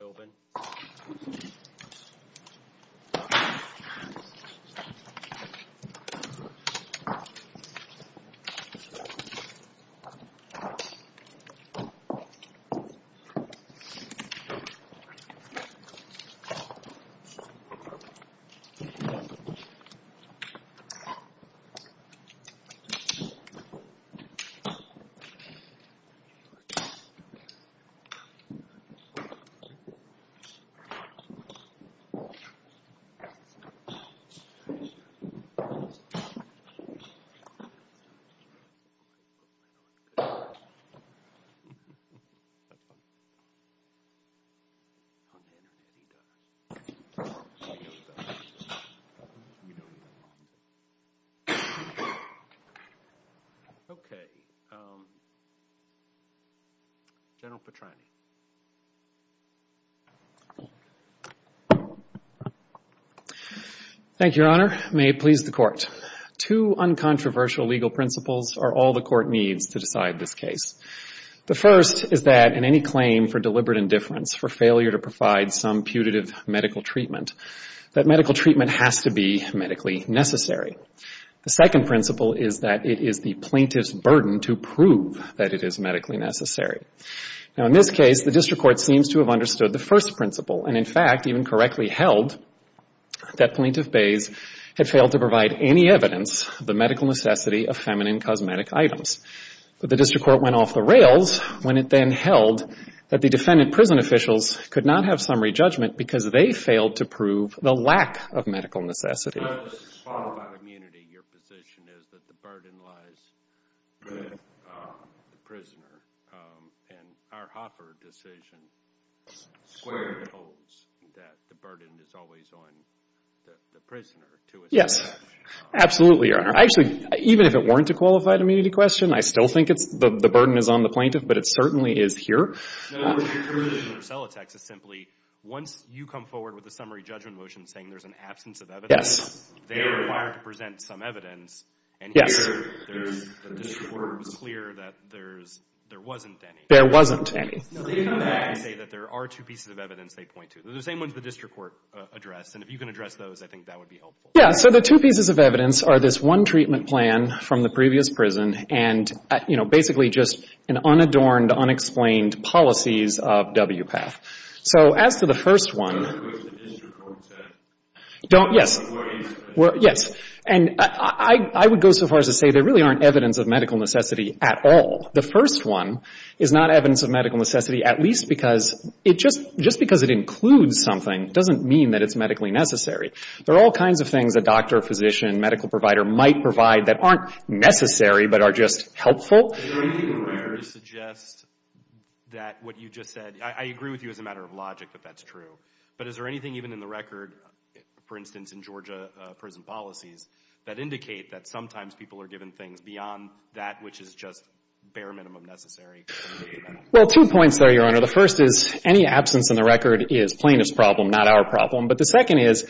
Ted Philbin Okay. General Petrany. Thank you, Your Honor. May it please the Court. Two uncontroversial legal principles are all the Court needs to decide this case. The first is that in any claim for deliberate indifference, for failure to provide some putative medical treatment, that medical treatment has to be medically necessary. The second principle is that it is the plaintiff's burden to prove that it is medically necessary. Now, in this case, the District Court seems to have understood the first principle and, in fact, even correctly held that Plaintiff Bayse had failed to provide any evidence of the medical necessity of feminine cosmetic items. But the District Court went off the rails when it then held that the defendant prison officials could not have summary judgment because they failed to prove the lack of medical necessity. It's not just qualified immunity. Your position is that the burden lies with the prisoner. And our Hoffer decision squarely holds that the burden is always on the prisoner to assess. Yes. Absolutely, Your Honor. Actually, even if it weren't a qualified immunity question, I still think the burden is on the plaintiff, but it certainly is here. Your position in Rosella, Texas, simply, once you come forward with a summary judgment motion saying there's an absence of evidence, they are required to present some evidence. And here, the District Court was clear that there wasn't any. There wasn't any. No, they come back and say that there are two pieces of evidence they point to. They're the same ones the District Court addressed, and if you can address those, I think that would be helpful. Yeah. So the two pieces of evidence are this one treatment plan from the previous prison and, you know, basically just an unadorned, unexplained policies of WPATH. So as to the first one... Don't go to the District Court to... Yes. Yes. And I would go so far as to say there really aren't evidence of medical necessity at all. The first one is not evidence of medical necessity, at least because it just — just because it includes something doesn't mean that it's medically necessary. There are all kinds of things a doctor, physician, medical provider might provide that aren't necessary but are just helpful. Is there anything in there to suggest that what you just said — I agree with you as a matter of logic that that's true. But is there anything even in the record, for instance, in Georgia prison policies, that indicate that sometimes people are given things beyond that which is just bare minimum necessary? Well, two points there, Your Honor. The first is any absence in the record is plaintiff's problem, not our problem. But the second is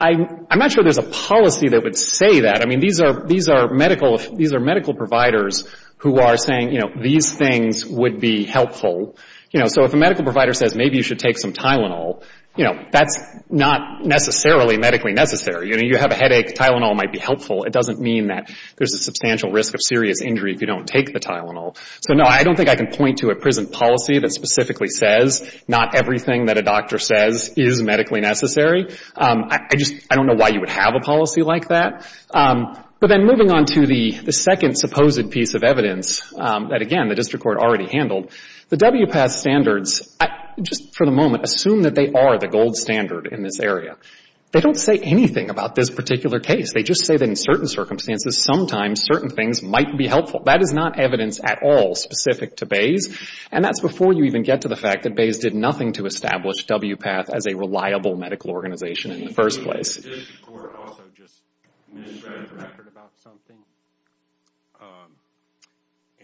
I'm not sure there's a policy that would say that. I mean, these are medical — these are medical providers who are saying, you know, these things would be helpful. You know, so if a medical provider says maybe you should take some Tylenol, you know, that's not necessarily medically necessary. You know, you have a headache, Tylenol might be helpful. It doesn't mean that there's a substantial risk of serious injury if you don't take the Tylenol. So, no, I don't think I can point to a prison policy that specifically says not everything that a doctor says is medically necessary. I just — I don't know why you would have a policy like that. But then moving on to the second supposed piece of evidence that, again, the district court already handled, the WPATH standards, just for the moment, assume that they are the gold standard in this area. They don't say anything about this particular case. They just say that in certain circumstances, sometimes certain things might be helpful. That is not evidence at all specific to Bayes. And that's before you even get to the fact that Bayes did nothing to establish WPATH as a reliable medical organization in the first place. The district court also just misread the record about something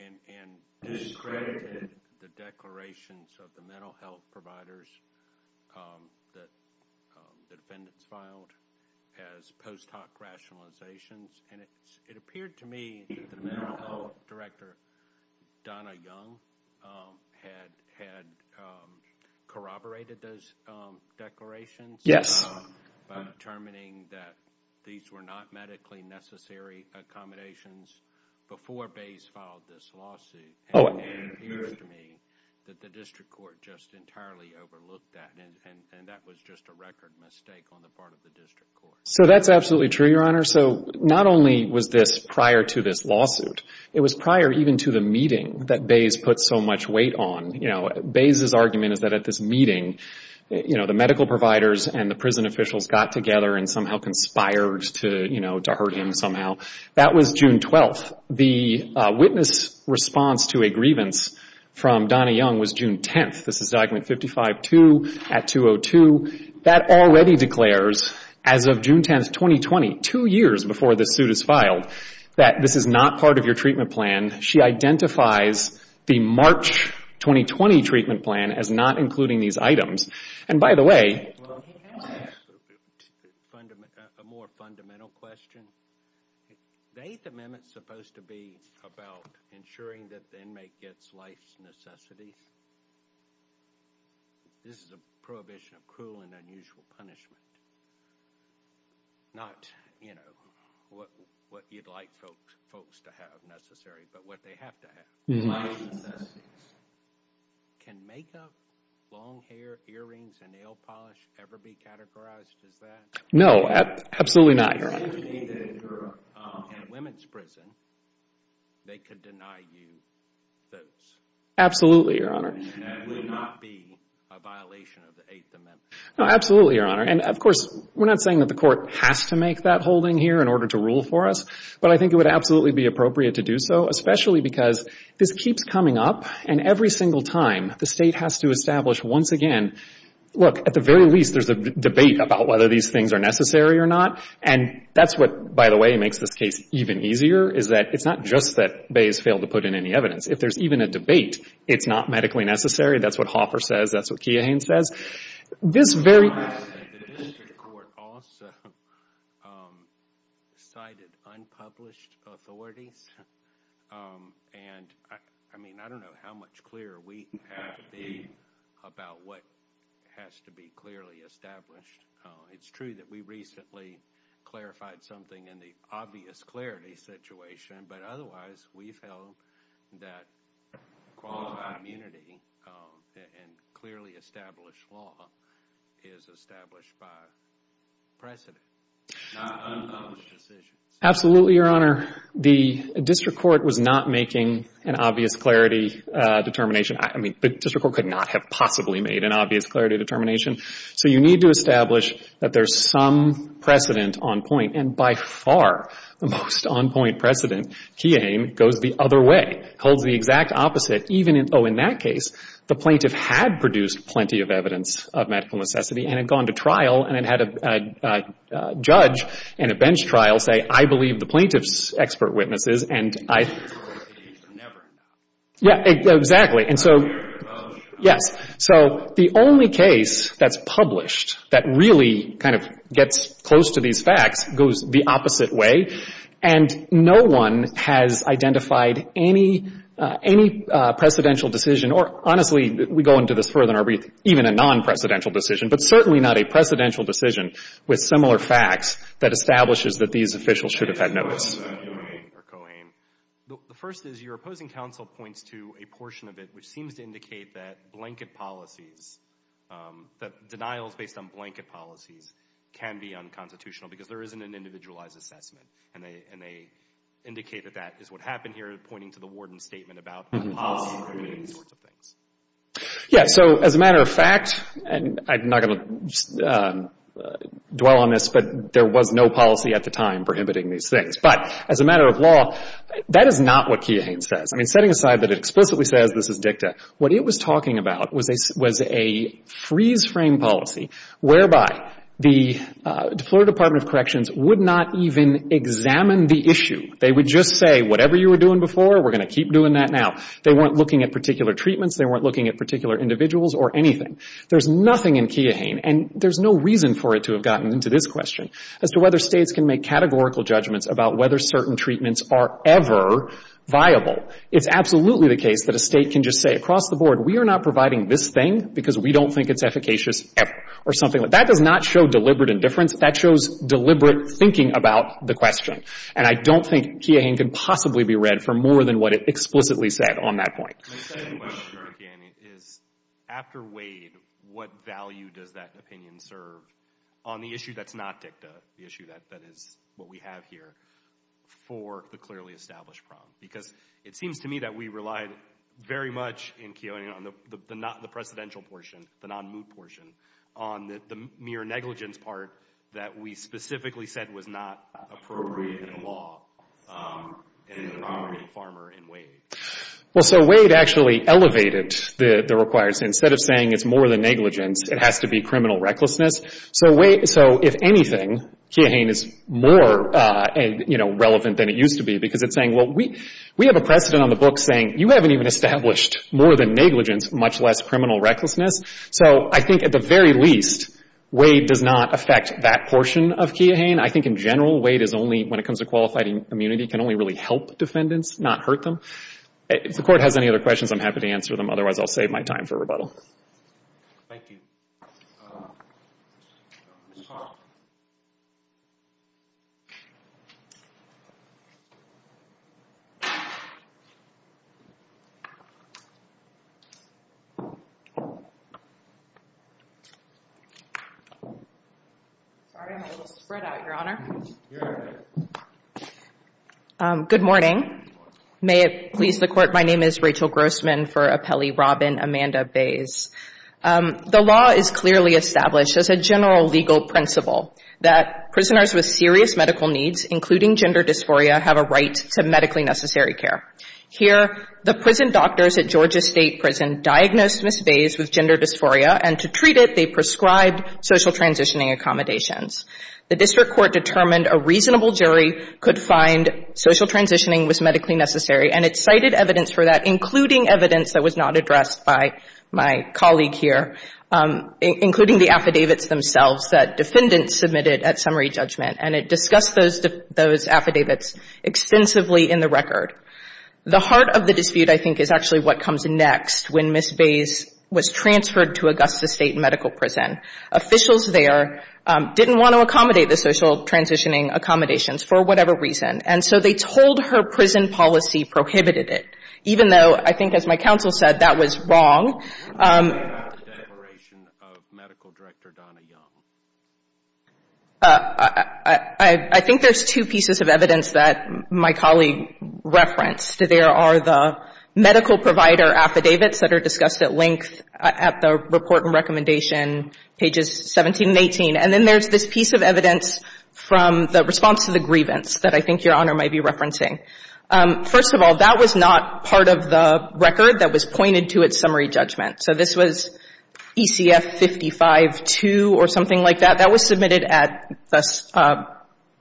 and discredited the declarations of the mental health providers that the defendants filed as post hoc rationalizations. And it appeared to me that the mental health director, Donna Young, had corroborated those declarations. Yes. By determining that these were not medically necessary accommodations before Bayes filed this lawsuit. Oh. And it appears to me that the district court just entirely overlooked that. And that was just a record mistake on the part of the district court. So that's absolutely true, Your Honor. So not only was this prior to this lawsuit, it was prior even to the meeting that Bayes put so much weight on. You know, Bayes' argument is that at this meeting, you know, the medical providers and the prison officials got together and somehow conspired to, you know, to hurt him somehow. That was June 12th. The witness response to a grievance from Donna Young was June 10th. This is document 55-2 at 202. That already declares as of June 10th, 2020, two years before this suit is filed, that this is not part of your treatment plan. She identifies the March 2020 treatment plan as not including these items. And by the way. Well, a more fundamental question. The Eighth Amendment is supposed to be about ensuring that the inmate gets life's necessity. This is a prohibition of cruel and unusual punishment. Not, you know, what you'd like folks to have necessary, but what they have to have. Life's necessities. Can makeup, long hair, earrings, and nail polish ever be categorized as that? No, absolutely not, Your Honor. In a women's prison, they could deny you those. Absolutely, Your Honor. And that would not be a violation of the Eighth Amendment. No, absolutely, Your Honor. And of course, we're not saying that the court has to make that holding here in order to rule for us. But I think it would absolutely be appropriate to do so. Especially because this keeps coming up. And every single time, the State has to establish once again. Look, at the very least, there's a debate about whether these things are necessary or not. And that's what, by the way, makes this case even easier. Is that it's not just that Bayes failed to put in any evidence. If there's even a debate, it's not medically necessary. That's what Hoffer says. That's what Keohane says. The District Court also cited unpublished authorities. And I mean, I don't know how much clearer we have to be about what has to be clearly established. It's true that we recently clarified something in the obvious clarity situation. But otherwise, we feel that qualified immunity and clearly established law is established by precedent. Not unpublished decisions. Absolutely, Your Honor. The District Court was not making an obvious clarity determination. I mean, the District Court could not have possibly made an obvious clarity determination. So you need to establish that there's some precedent on point. And by far, the most on point precedent, Keohane, goes the other way. Holds the exact opposite. Even in, oh, in that case, the plaintiff had produced plenty of evidence of medical necessity and had gone to trial and had a judge and a bench trial say, I believe the plaintiff's expert witnesses. And I, yeah, exactly. And so, yes. So the only case that's published that really kind of gets close to these facts goes the opposite way. And no one has identified any, any precedential decision, or honestly, we go into this further in our brief, even a non-precedential decision, but certainly not a precedential decision with similar facts that establishes that these officials should have had notice. Keohane. The first is your opposing counsel points to a portion of it which seems to indicate that blanket policies, that denials based on blanket policies can be unconstitutional because there isn't an individualized assessment. And they indicate that that is what happened here, pointing to the warden's statement about policy prohibiting these sorts of things. Yeah, so as a matter of fact, and I'm not going to dwell on this, but there was no policy at the time prohibiting these things. But as a matter of law, that is not what Keohane says. I mean, setting aside that it explicitly says this is dicta, what it was talking about was a freeze-frame policy whereby the Florida Department of Corrections would not even examine the issue. They would just say, whatever you were doing before, we're going to keep doing that now. They weren't looking at particular treatments. They weren't looking at particular individuals or anything. There's nothing in Keohane, and there's no reason for it to have gotten into this question, as to whether States can make categorical judgments about whether certain treatments are ever viable. It's absolutely the case that a State can just say across the board, we are not providing this thing because we don't think it's efficacious ever, or something like that. That does not show deliberate indifference. That shows deliberate thinking about the question. And I don't think Keohane can possibly be read for more than what it explicitly said on that point. My second question, again, is after Wade, what value does that opinion serve on the issue that's not dicta, the issue that is what we have here, for the clearly established problem? Because it seems to me that we relied very much in Keohane on the presidential portion, the non-moot portion, on the mere negligence part that we specifically said was not appropriate in law in the primary to Farmer and Wade. Well, so Wade actually elevated the requirements. Instead of saying it's more than negligence, it has to be criminal recklessness. So if anything, Keohane is more relevant than it used to be because it's saying, well, we have a precedent on the book saying you haven't even established more than negligence, much less criminal recklessness. So I think at the very least, Wade does not affect that portion of Keohane. Again, I think in general, Wade is only, when it comes to qualified immunity, can only really help defendants, not hurt them. If the Court has any other questions, I'm happy to answer them. Otherwise, I'll save my time for rebuttal. Thank you. Sorry, I'm a little spread out, Your Honor. Good morning. May it please the Court, my name is Rachel Grossman for Appellee Robin Amanda Bays. The law is clearly established as a general legal principle that prisoners with serious medical needs, including gender dysphoria, have a right to medically necessary care. Here, the prison doctors at Georgia State Prison diagnosed Ms. Bays with gender dysphoria, and to treat it, they prescribed social transitioning accommodations. The district court determined a reasonable jury could find social transitioning was medically necessary, and it cited evidence for that, including evidence that was not addressed by my colleague here, including the affidavits themselves that defendants submitted at summary judgment. And it discussed those affidavits extensively in the record. The heart of the dispute, I think, is actually what comes next when Ms. Bays was transferred to Augusta State Medical Prison. Officials there didn't want to accommodate the social transitioning accommodations for whatever reason. And so they told her prison policy prohibited it, even though I think, as my counsel said, that was wrong. I think there's two pieces of evidence that my colleague referenced. There are the medical provider affidavits that are discussed at length at the report and recommendation, pages 17 and 18. And then there's this piece of evidence from the response to the grievance that I think Your Honor might be referencing. First of all, that was not part of the record that was pointed to at summary judgment. So this was ECF 55-2 or something like that. That was submitted at the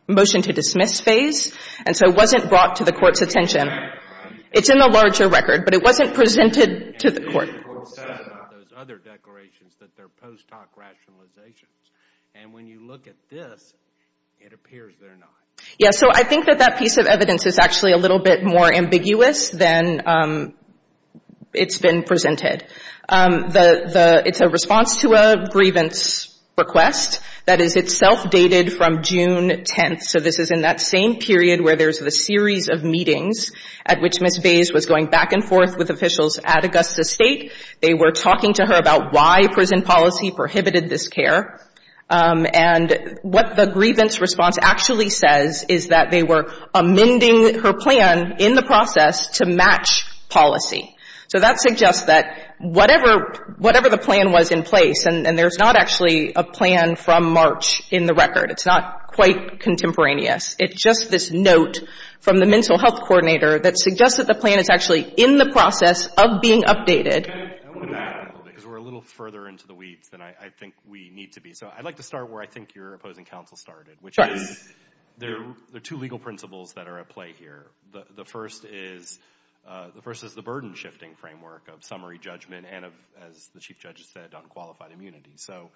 motion to dismiss phase, and so it wasn't brought to the Court's attention. It's in the larger record, but it wasn't presented to the Court. Those other declarations that they're post hoc rationalizations. And when you look at this, it appears they're not. Yeah, so I think that that piece of evidence is actually a little bit more ambiguous than it's been presented. It's a response to a grievance request that is itself dated from June 10th. So this is in that same period where there's the series of meetings at which Ms. Bays was going back and forth with officials at Augusta State. They were talking to her about why prison policy prohibited this care. And what the grievance response actually says is that they were amending her plan in the process to match policy. So that suggests that whatever the plan was in place, and there's not actually a plan from March in the record. It's not quite contemporaneous. It's just this note from the mental health coordinator that suggests that the plan is actually in the process of being updated. I want to add a little bit, because we're a little further into the weeds than I think we need to be. So I'd like to start where I think your opposing counsel started, which is there are two legal principles that are at play here. The first is the burden-shifting framework of summary judgment and, as the Chief Judge said, on qualified immunity. So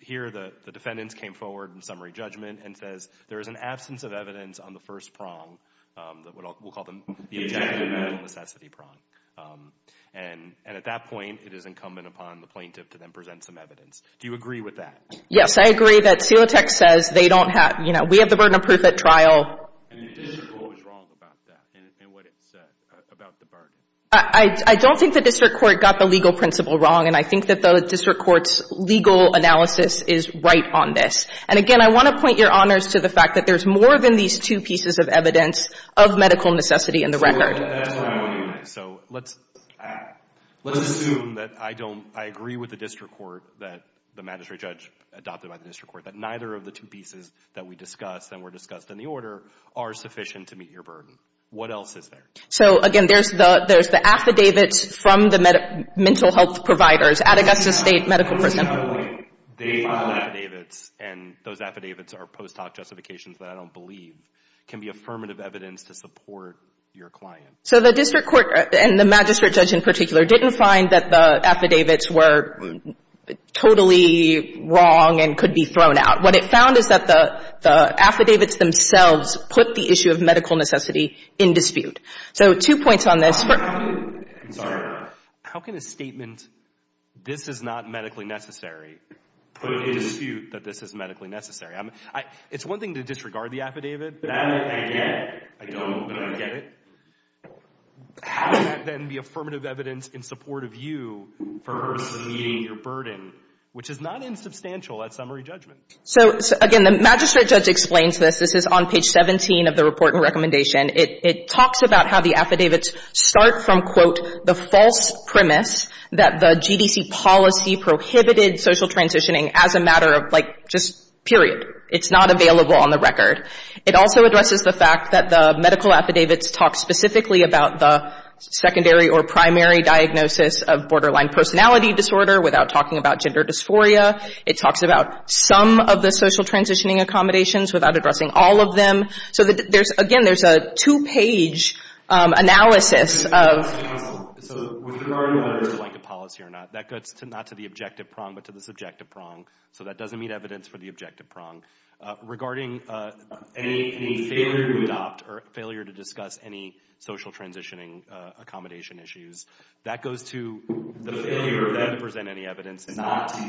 here the defendants came forward in summary judgment and says there is an absence of evidence on the first prong. We'll call them the objective and necessity prong. And at that point, it is incumbent upon the plaintiff to then present some evidence. Do you agree with that? Yes, I agree that Celotex says they don't have – you know, we have the burden of proof at trial. And the district court was wrong about that and what it said about the burden. I don't think the district court got the legal principle wrong, and I think that the district court's legal analysis is right on this. And, again, I want to point your honors to the fact that there's more than these two pieces of evidence of medical necessity in the record. So let's assume that I don't – I agree with the district court that the magistrate judge adopted by the district court that neither of the two pieces that we discussed and were discussed in the order are sufficient to meet your burden. What else is there? So, again, there's the – there's the affidavits from the mental health providers at Augusta State Medical Prison. I'm wondering how the way they filed affidavits, and those affidavits are post hoc justifications that I don't believe, can be affirmative evidence to support your client. So the district court, and the magistrate judge in particular, didn't find that the affidavits were totally wrong and could be thrown out. What it found is that the affidavits themselves put the issue of medical necessity in dispute. So two points on this. I'm sorry. How can a statement, this is not medically necessary, put in dispute that this is medically necessary? It's one thing to disregard the affidavit. That, again, I don't get it. How can that then be affirmative evidence in support of you for meeting your burden, which is not insubstantial at summary judgment? So, again, the magistrate judge explains this. This is on page 17 of the report and recommendation. It talks about how the affidavits start from, quote, the false premise that the GDC policy prohibited social transitioning as a matter of, like, just period. It's not available on the record. It also addresses the fact that the medical affidavits talk specifically about the secondary or primary diagnosis of borderline personality disorder without talking about gender dysphoria. It talks about some of the social transitioning accommodations without addressing all of them. So there's, again, there's a two-page analysis of. So with regard to whether it's a blanket policy or not, that goes not to the objective prong, but to the subjective prong. So that doesn't meet evidence for the objective prong. Regarding any failure to adopt or failure to discuss any social transitioning accommodation issues, that goes to the failure of them to present any evidence and not to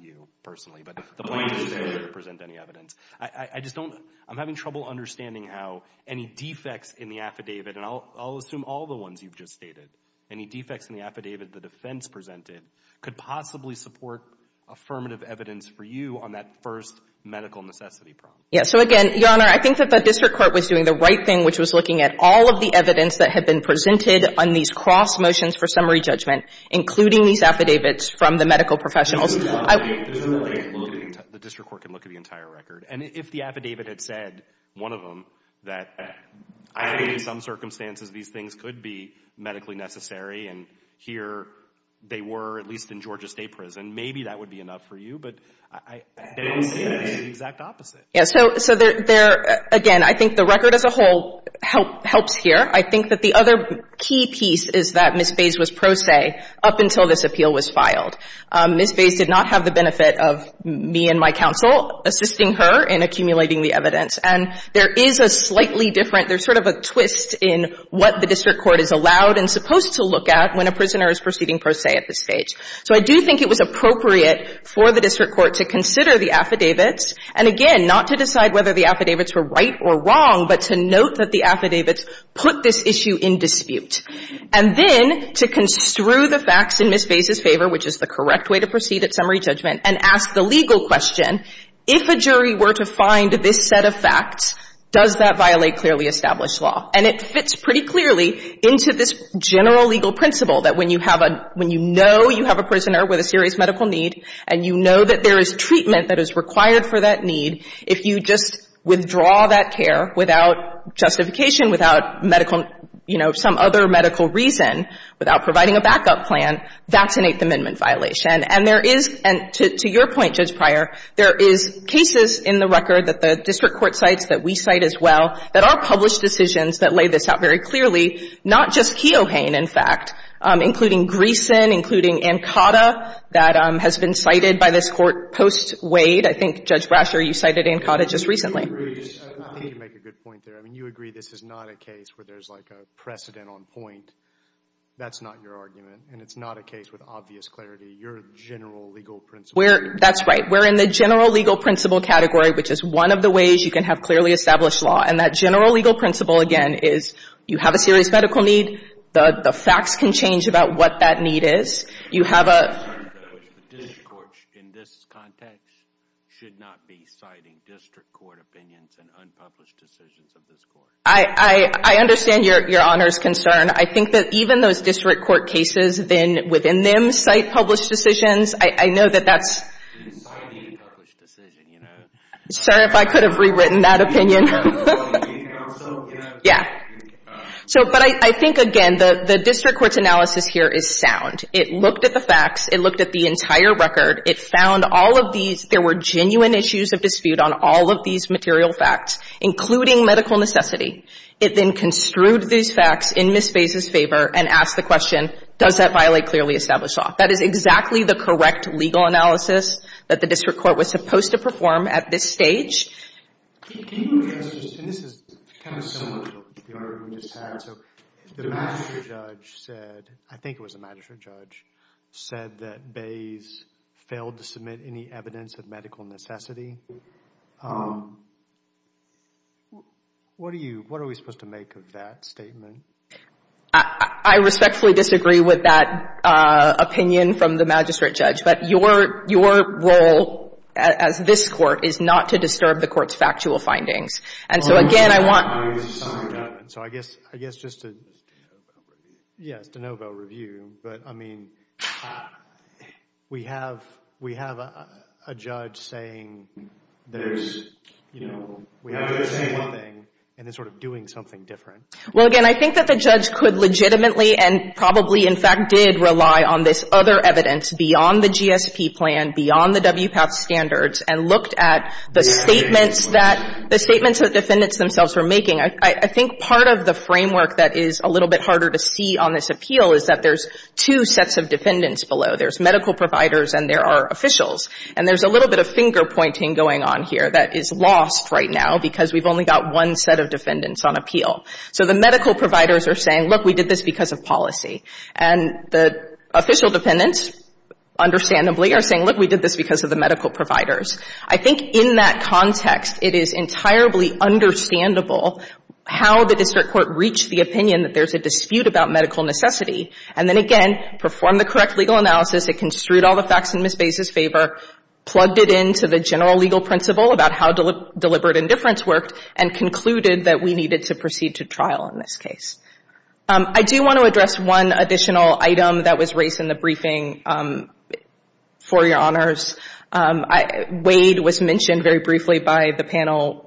you, personally, but the plaintiff's failure to present any evidence. I just don't. I'm having trouble understanding how any defects in the affidavit, and I'll assume all the ones you've just stated, any defects in the affidavit the defense presented could possibly support affirmative evidence for you on that first medical necessity prong. Yes. So, again, Your Honor, I think that the district court was doing the right thing, which was looking at all of the evidence that had been presented on these cross motions for summary judgment, including these affidavits from the medical professionals. The district court can look at the entire record. And if the affidavit had said, one of them, that I believe in some circumstances these things could be medically necessary and here they were, at least in Georgia State Prison, maybe that would be enough for you. But I don't see the exact opposite. Yes. So there, again, I think the record as a whole helps here. I think that the other key piece is that Ms. Fays was pro se up until this appeal was filed. Ms. Fays did not have the benefit of me and my counsel assisting her in accumulating the evidence. And there is a slightly different, there's sort of a twist in what the district court is allowed and supposed to look at when a prisoner is proceeding pro se at this stage. So I do think it was appropriate for the district court to consider the affidavits and, again, not to decide whether the affidavits were right or wrong, but to note that the affidavits put this issue in dispute. And then to construe the facts in Ms. Fays' favor, which is the correct way to proceed at summary judgment, and ask the legal question, if a jury were to find this set of facts, does that violate clearly established law? And it fits pretty clearly into this general legal principle that when you have a, when you know you have a prisoner with a serious medical need and you know that there is treatment that is required for that need, if you just withdraw that care without justification, without medical, you know, some other medical reason, without providing a backup plan, that's an Eighth Amendment violation. And there is, and to your point, Judge Pryor, there is cases in the record that the district court cites, that we cite as well, that are published decisions that lay this out very clearly, not just Keohane, in fact, including Greeson, including Ancada, that has been cited by this Court post-Wade. I think, Judge Brasher, you cited Ancada just recently. I think you make a good point there. I mean, you agree this is not a case where there's, like, a precedent on point. That's not your argument. And it's not a case with obvious clarity. Your general legal principle. That's right. We're in the general legal principle category, which is one of the ways you can have clearly established law. And that general legal principle, again, is you have a serious medical need. The facts can change about what that need is. You have a The district courts, in this context, should not be citing district court opinions and unpublished decisions of this Court. I understand your Honor's concern. I think that even those district court cases, then, within them, cite published decisions. I know that that's Citing a published decision, you know. Sorry if I could have rewritten that opinion. You know, in counsel. Yeah. So, but I think, again, the district court's analysis here is sound. It looked at the facts. It looked at the entire record. It found all of these. There were genuine issues of dispute on all of these material facts, including medical necessity. It then construed these facts in Ms. Faiz's favor and asked the question, does that violate clearly established law? That is exactly the correct legal analysis that the district court was supposed to perform at this stage. And this is kind of similar to the argument we just had. So the magistrate judge said, I think it was the magistrate judge, said that Bays failed to submit any evidence of medical necessity. What are you, what are we supposed to make of that statement? I respectfully disagree with that opinion from the magistrate judge. But your, your role as this Court is not to disturb the Court's factual findings. And so, again, I want. So I guess, I guess just to. Yes, de novo review. But, I mean, we have, we have a judge saying there's, you know, we have the same thing and it's sort of doing something different. Well, again, I think that the judge could legitimately and probably, in fact, did rely on this other evidence beyond the GSP plan, beyond the WPATH standards, and looked at the statements that, the statements that defendants themselves were making. I think part of the framework that is a little bit harder to see on this appeal is that there's two sets of defendants below. There's medical providers and there are officials. And there's a little bit of finger pointing going on here that is lost right now because we've only got one set of defendants on appeal. So the medical providers are saying, look, we did this because of policy. And the official defendants, understandably, are saying, look, we did this because of the medical providers. I think in that context, it is entirely understandable how the district court reached the opinion that there's a dispute about medical necessity. And then, again, performed the correct legal analysis. It construed all the facts in Ms. Bay's favor, plugged it into the general legal principle about how deliberate indifference worked, and concluded that we needed to proceed to trial in this case. I do want to address one additional item that was raised in the briefing for your honors. Wade was mentioned very briefly by the panel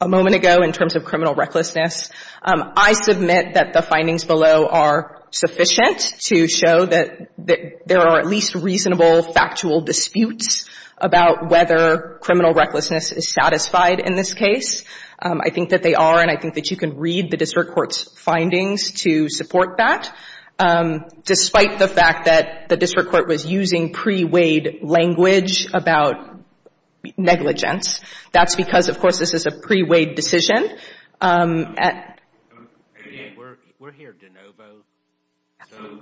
a moment ago in terms of criminal recklessness. I submit that the findings below are sufficient to show that there are at least reasonable factual disputes about whether criminal recklessness is satisfied in this case. I think that they are. And I think that you can read the district court's findings to support that. Despite the fact that the district court was using pre-Wade language about negligence, that's because, of course, this is a pre-Wade decision. We're here de novo. So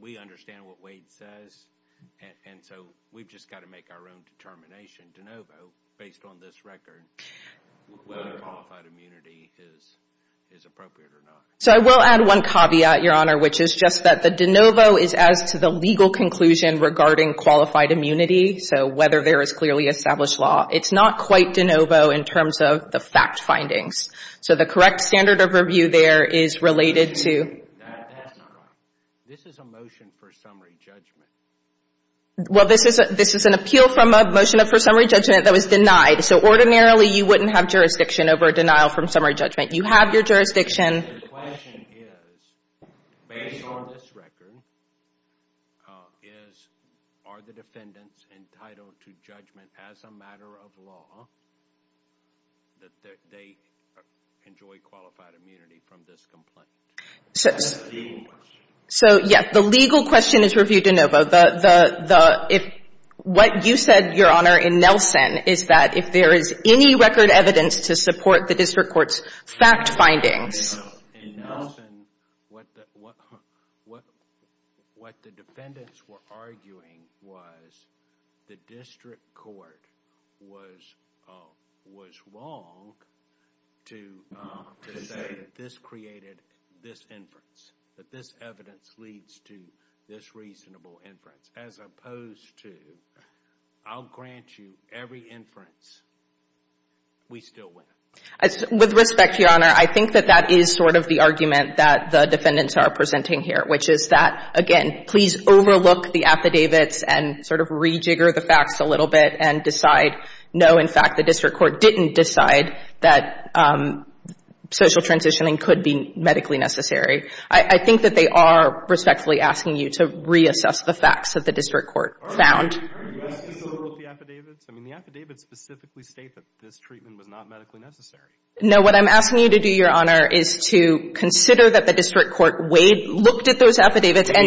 we understand what Wade says. And so we've just got to make our own determination de novo based on this record whether qualified immunity is appropriate or not. So I will add one caveat, Your Honor, which is just that the de novo is as to the legal conclusion regarding qualified immunity, so whether there is clearly established law. It's not quite de novo in terms of the fact findings. So the correct standard of review there is related to that. This is a motion for summary judgment. Well, this is an appeal from a motion for summary judgment that was denied. So ordinarily, you wouldn't have jurisdiction over a denial from summary judgment. You have your jurisdiction. The question is, based on this record, are the defendants entitled to judgment as a matter of law that they enjoy qualified immunity from this complaint? That's the legal question. So, yes, the legal question is reviewed de novo. What you said, Your Honor, in Nelson is that if there is any record evidence to support the district court's fact findings. In Nelson, what the defendants were arguing was the district court was wrong to say that this created this inference, that this evidence leads to this reasonable inference, as opposed to, I'll grant you every inference, we still win. With respect, Your Honor, I think that that is sort of the argument that the defendants are presenting here, which is that, again, please overlook the affidavits and sort of rejigger the facts a little bit and decide, no, in fact, the district court didn't decide that social transitioning could be medically necessary. I think that they are respectfully asking you to reassess the facts that the district court found. The affidavits specifically state that this treatment was not medically necessary. No. What I'm asking you to do, Your Honor, is to consider that the district court weighed, looked at those affidavits. And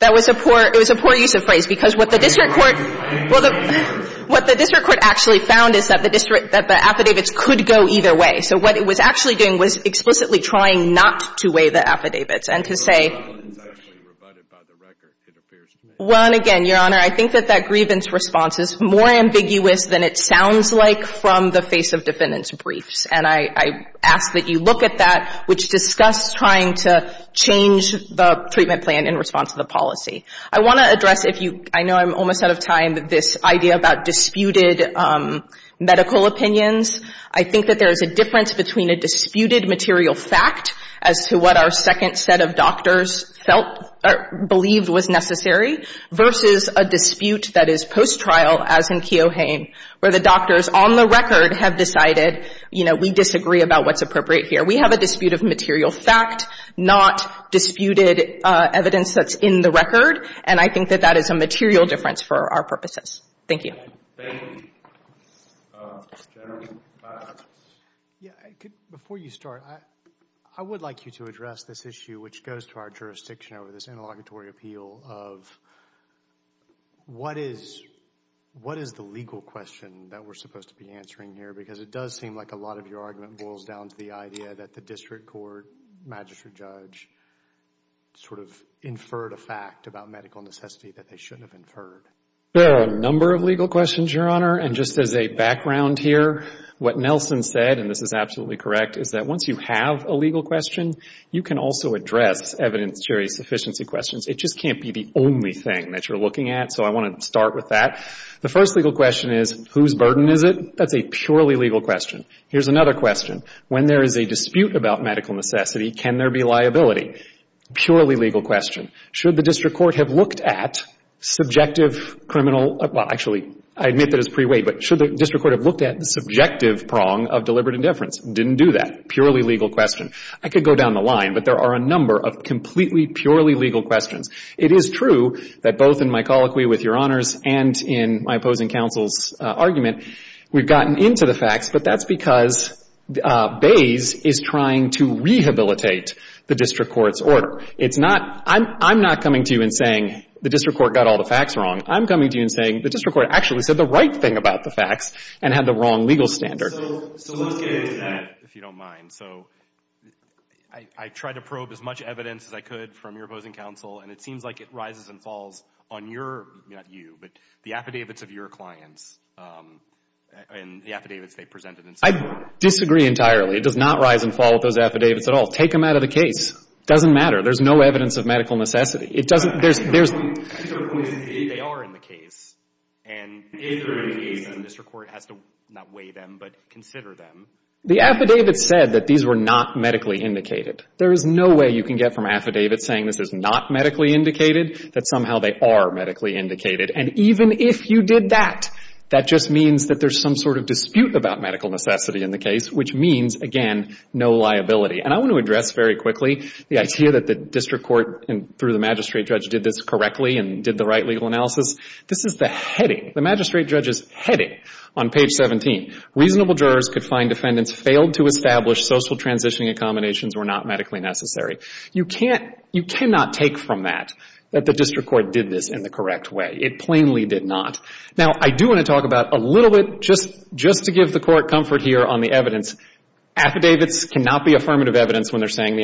that was a poor use of phrase. Because what the district court actually found is that the affidavits could go either So what it was actually doing was explicitly trying not to weigh the affidavits and to say. Well, and again, Your Honor, I think that that grievance response is more ambiguous than it sounds like from the face of defendants' briefs. And I ask that you look at that, which discussed trying to change the treatment plan in response to the policy. I want to address, if you, I know I'm almost out of time, this idea about disputed medical opinions. I think that there is a difference between a disputed material fact as to what our second set of doctors felt or believed was necessary versus a dispute that is post-trial as in Keohane, where the doctors on the record have decided, you know, we disagree about what's appropriate here. We have a dispute of material fact, not disputed evidence that's in the record. And I think that that is a material difference for our purposes. Thank you. Thank you. Thank you, General. Yeah, before you start, I would like you to address this issue, which goes to our jurisdiction over this interlocutory appeal of what is the legal question that we're supposed to be answering here? Because it does seem like a lot of your argument boils down to the idea that the district court, magistrate judge, sort of inferred a fact about medical necessity that they shouldn't have inferred. There are a number of legal questions, Your Honor. And just as a background here, what Nelson said, and this is absolutely correct, is that once you have a legal question, you can also address evidence-based efficiency questions. It just can't be the only thing that you're looking at. So I want to start with that. The first legal question is, whose burden is it? That's a purely legal question. Here's another question. When there is a dispute about medical necessity, can there be liability? Purely legal question. Should the district court have looked at subjective criminal, well, actually, I admit that it's pre-weight, but should the district court have looked at the subjective prong of deliberate indifference? Didn't do that. Purely legal question. I could go down the line, but there are a number of completely purely legal questions. It is true that both in my colloquy with Your Honors and in my opposing counsel's argument, we've gotten into the facts, but that's because Bays is trying to rehabilitate the district court's order. It's not — I'm not coming to you and saying the district court got all the facts wrong. I'm coming to you and saying the district court actually said the right thing about the facts and had the wrong legal standard. So let's get into that, if you don't mind. So I tried to probe as much evidence as I could from your opposing counsel, and it seems like it rises and falls on your — not you, but the affidavits of your clients and the affidavits they presented in support. I disagree entirely. It does not rise and fall with those affidavits at all. Take them out of the case. It doesn't matter. There's no evidence of medical necessity. It doesn't — there's — These are points in the case. They are in the case. And if they're in the case, then the district court has to not weigh them, but consider them. The affidavits said that these were not medically indicated. There is no way you can get from affidavits saying this is not medically indicated that somehow they are medically indicated. And even if you did that, that just means that there's some sort of dispute about medical necessity in the case, which means, again, no liability. And I want to address very quickly the idea that the district court, through the magistrate judge, did this correctly and did the right legal analysis. This is the heading, the magistrate judge's heading on page 17. Reasonable jurors could find defendants failed to establish social transitioning accommodations were not medically necessary. You can't — you cannot take from that that the district court did this in the correct way. It plainly did not. Now, I do want to talk about a little bit, just to give the Court comfort here on the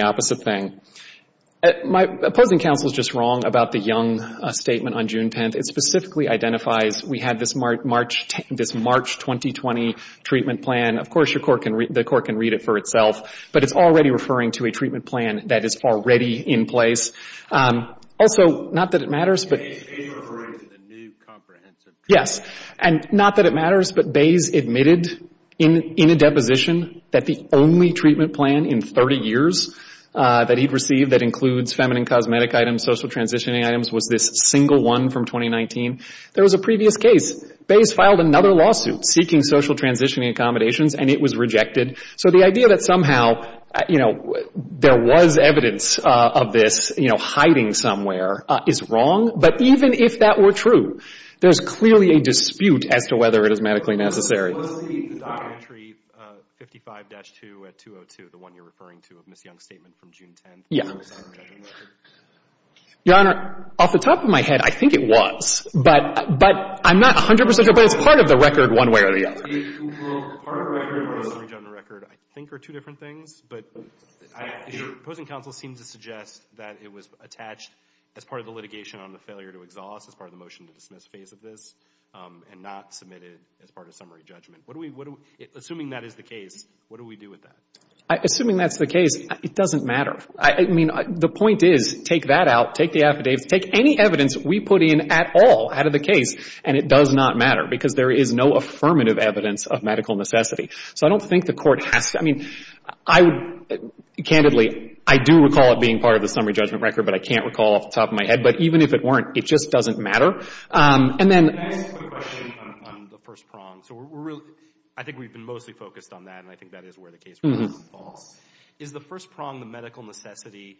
opposite thing. My opposing counsel is just wrong about the Young statement on June 10th. It specifically identifies we had this March 2020 treatment plan. Of course, the Court can read it for itself, but it's already referring to a treatment plan that is already in place. Also, not that it matters, but — A is referring to the new comprehensive treatment plan. Yes. And not that it matters, but Bays admitted in a deposition that the only treatment plan in 30 years that he'd received that includes feminine cosmetic items, social transitioning items, was this single one from 2019. There was a previous case. Bays filed another lawsuit seeking social transitioning accommodations, and it was rejected. So the idea that somehow, you know, there was evidence of this, you know, hiding somewhere is wrong. But even if that were true, there's clearly a dispute as to whether it is medically necessary. The documentary 55-2 at 202, the one you're referring to, of Ms. Young's statement from June 10th. Yeah. Your Honor, off the top of my head, I think it was. But I'm not 100 percent sure, but it's part of the record one way or the other. Well, part of the record or a summary general record, I think, are two different things. But your opposing counsel seems to suggest that it was attached as part of the litigation on the failure to exhaust, as part of the motion to dismiss phase of this, and not submitted as part of summary judgment. Assuming that is the case, what do we do with that? Assuming that's the case, it doesn't matter. I mean, the point is, take that out, take the affidavits, take any evidence we put in at all out of the case, and it does not matter. Because there is no affirmative evidence of medical necessity. So I don't think the Court has to. I mean, I would, candidly, I do recall it being part of the summary judgment record, but I can't recall off the top of my head. But even if it weren't, it just doesn't matter. And then Can I ask a question on the first prong? So we're really, I think we've been mostly focused on that, and I think that is where the case really falls. Is the first prong the medical necessity,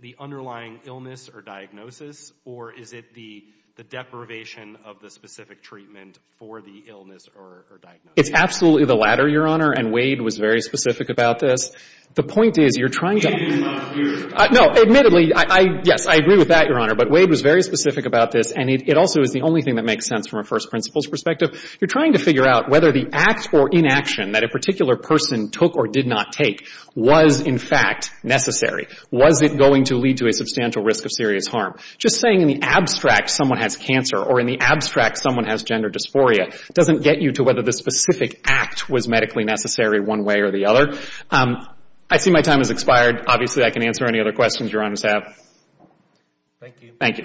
the underlying illness or diagnosis, or is it the deprivation of the specific treatment for the illness or diagnosis? It's absolutely the latter, Your Honor, and Wade was very specific about this. The point is, you're trying to It is not yours. No, admittedly, yes, I agree with that, Your Honor. But Wade was very specific about this, and it also is the only thing that makes sense from a first principles perspective. You're trying to figure out whether the act or inaction that a particular person took or did not take was, in fact, necessary. Was it going to lead to a substantial risk of serious harm? Just saying in the abstract someone has cancer or in the abstract someone has gender dysphoria doesn't get you to whether the specific act was medically necessary one way or the other. I see my time has expired. Obviously, I can answer any other questions Your Honors have. Thank you. Thank you. Thank you.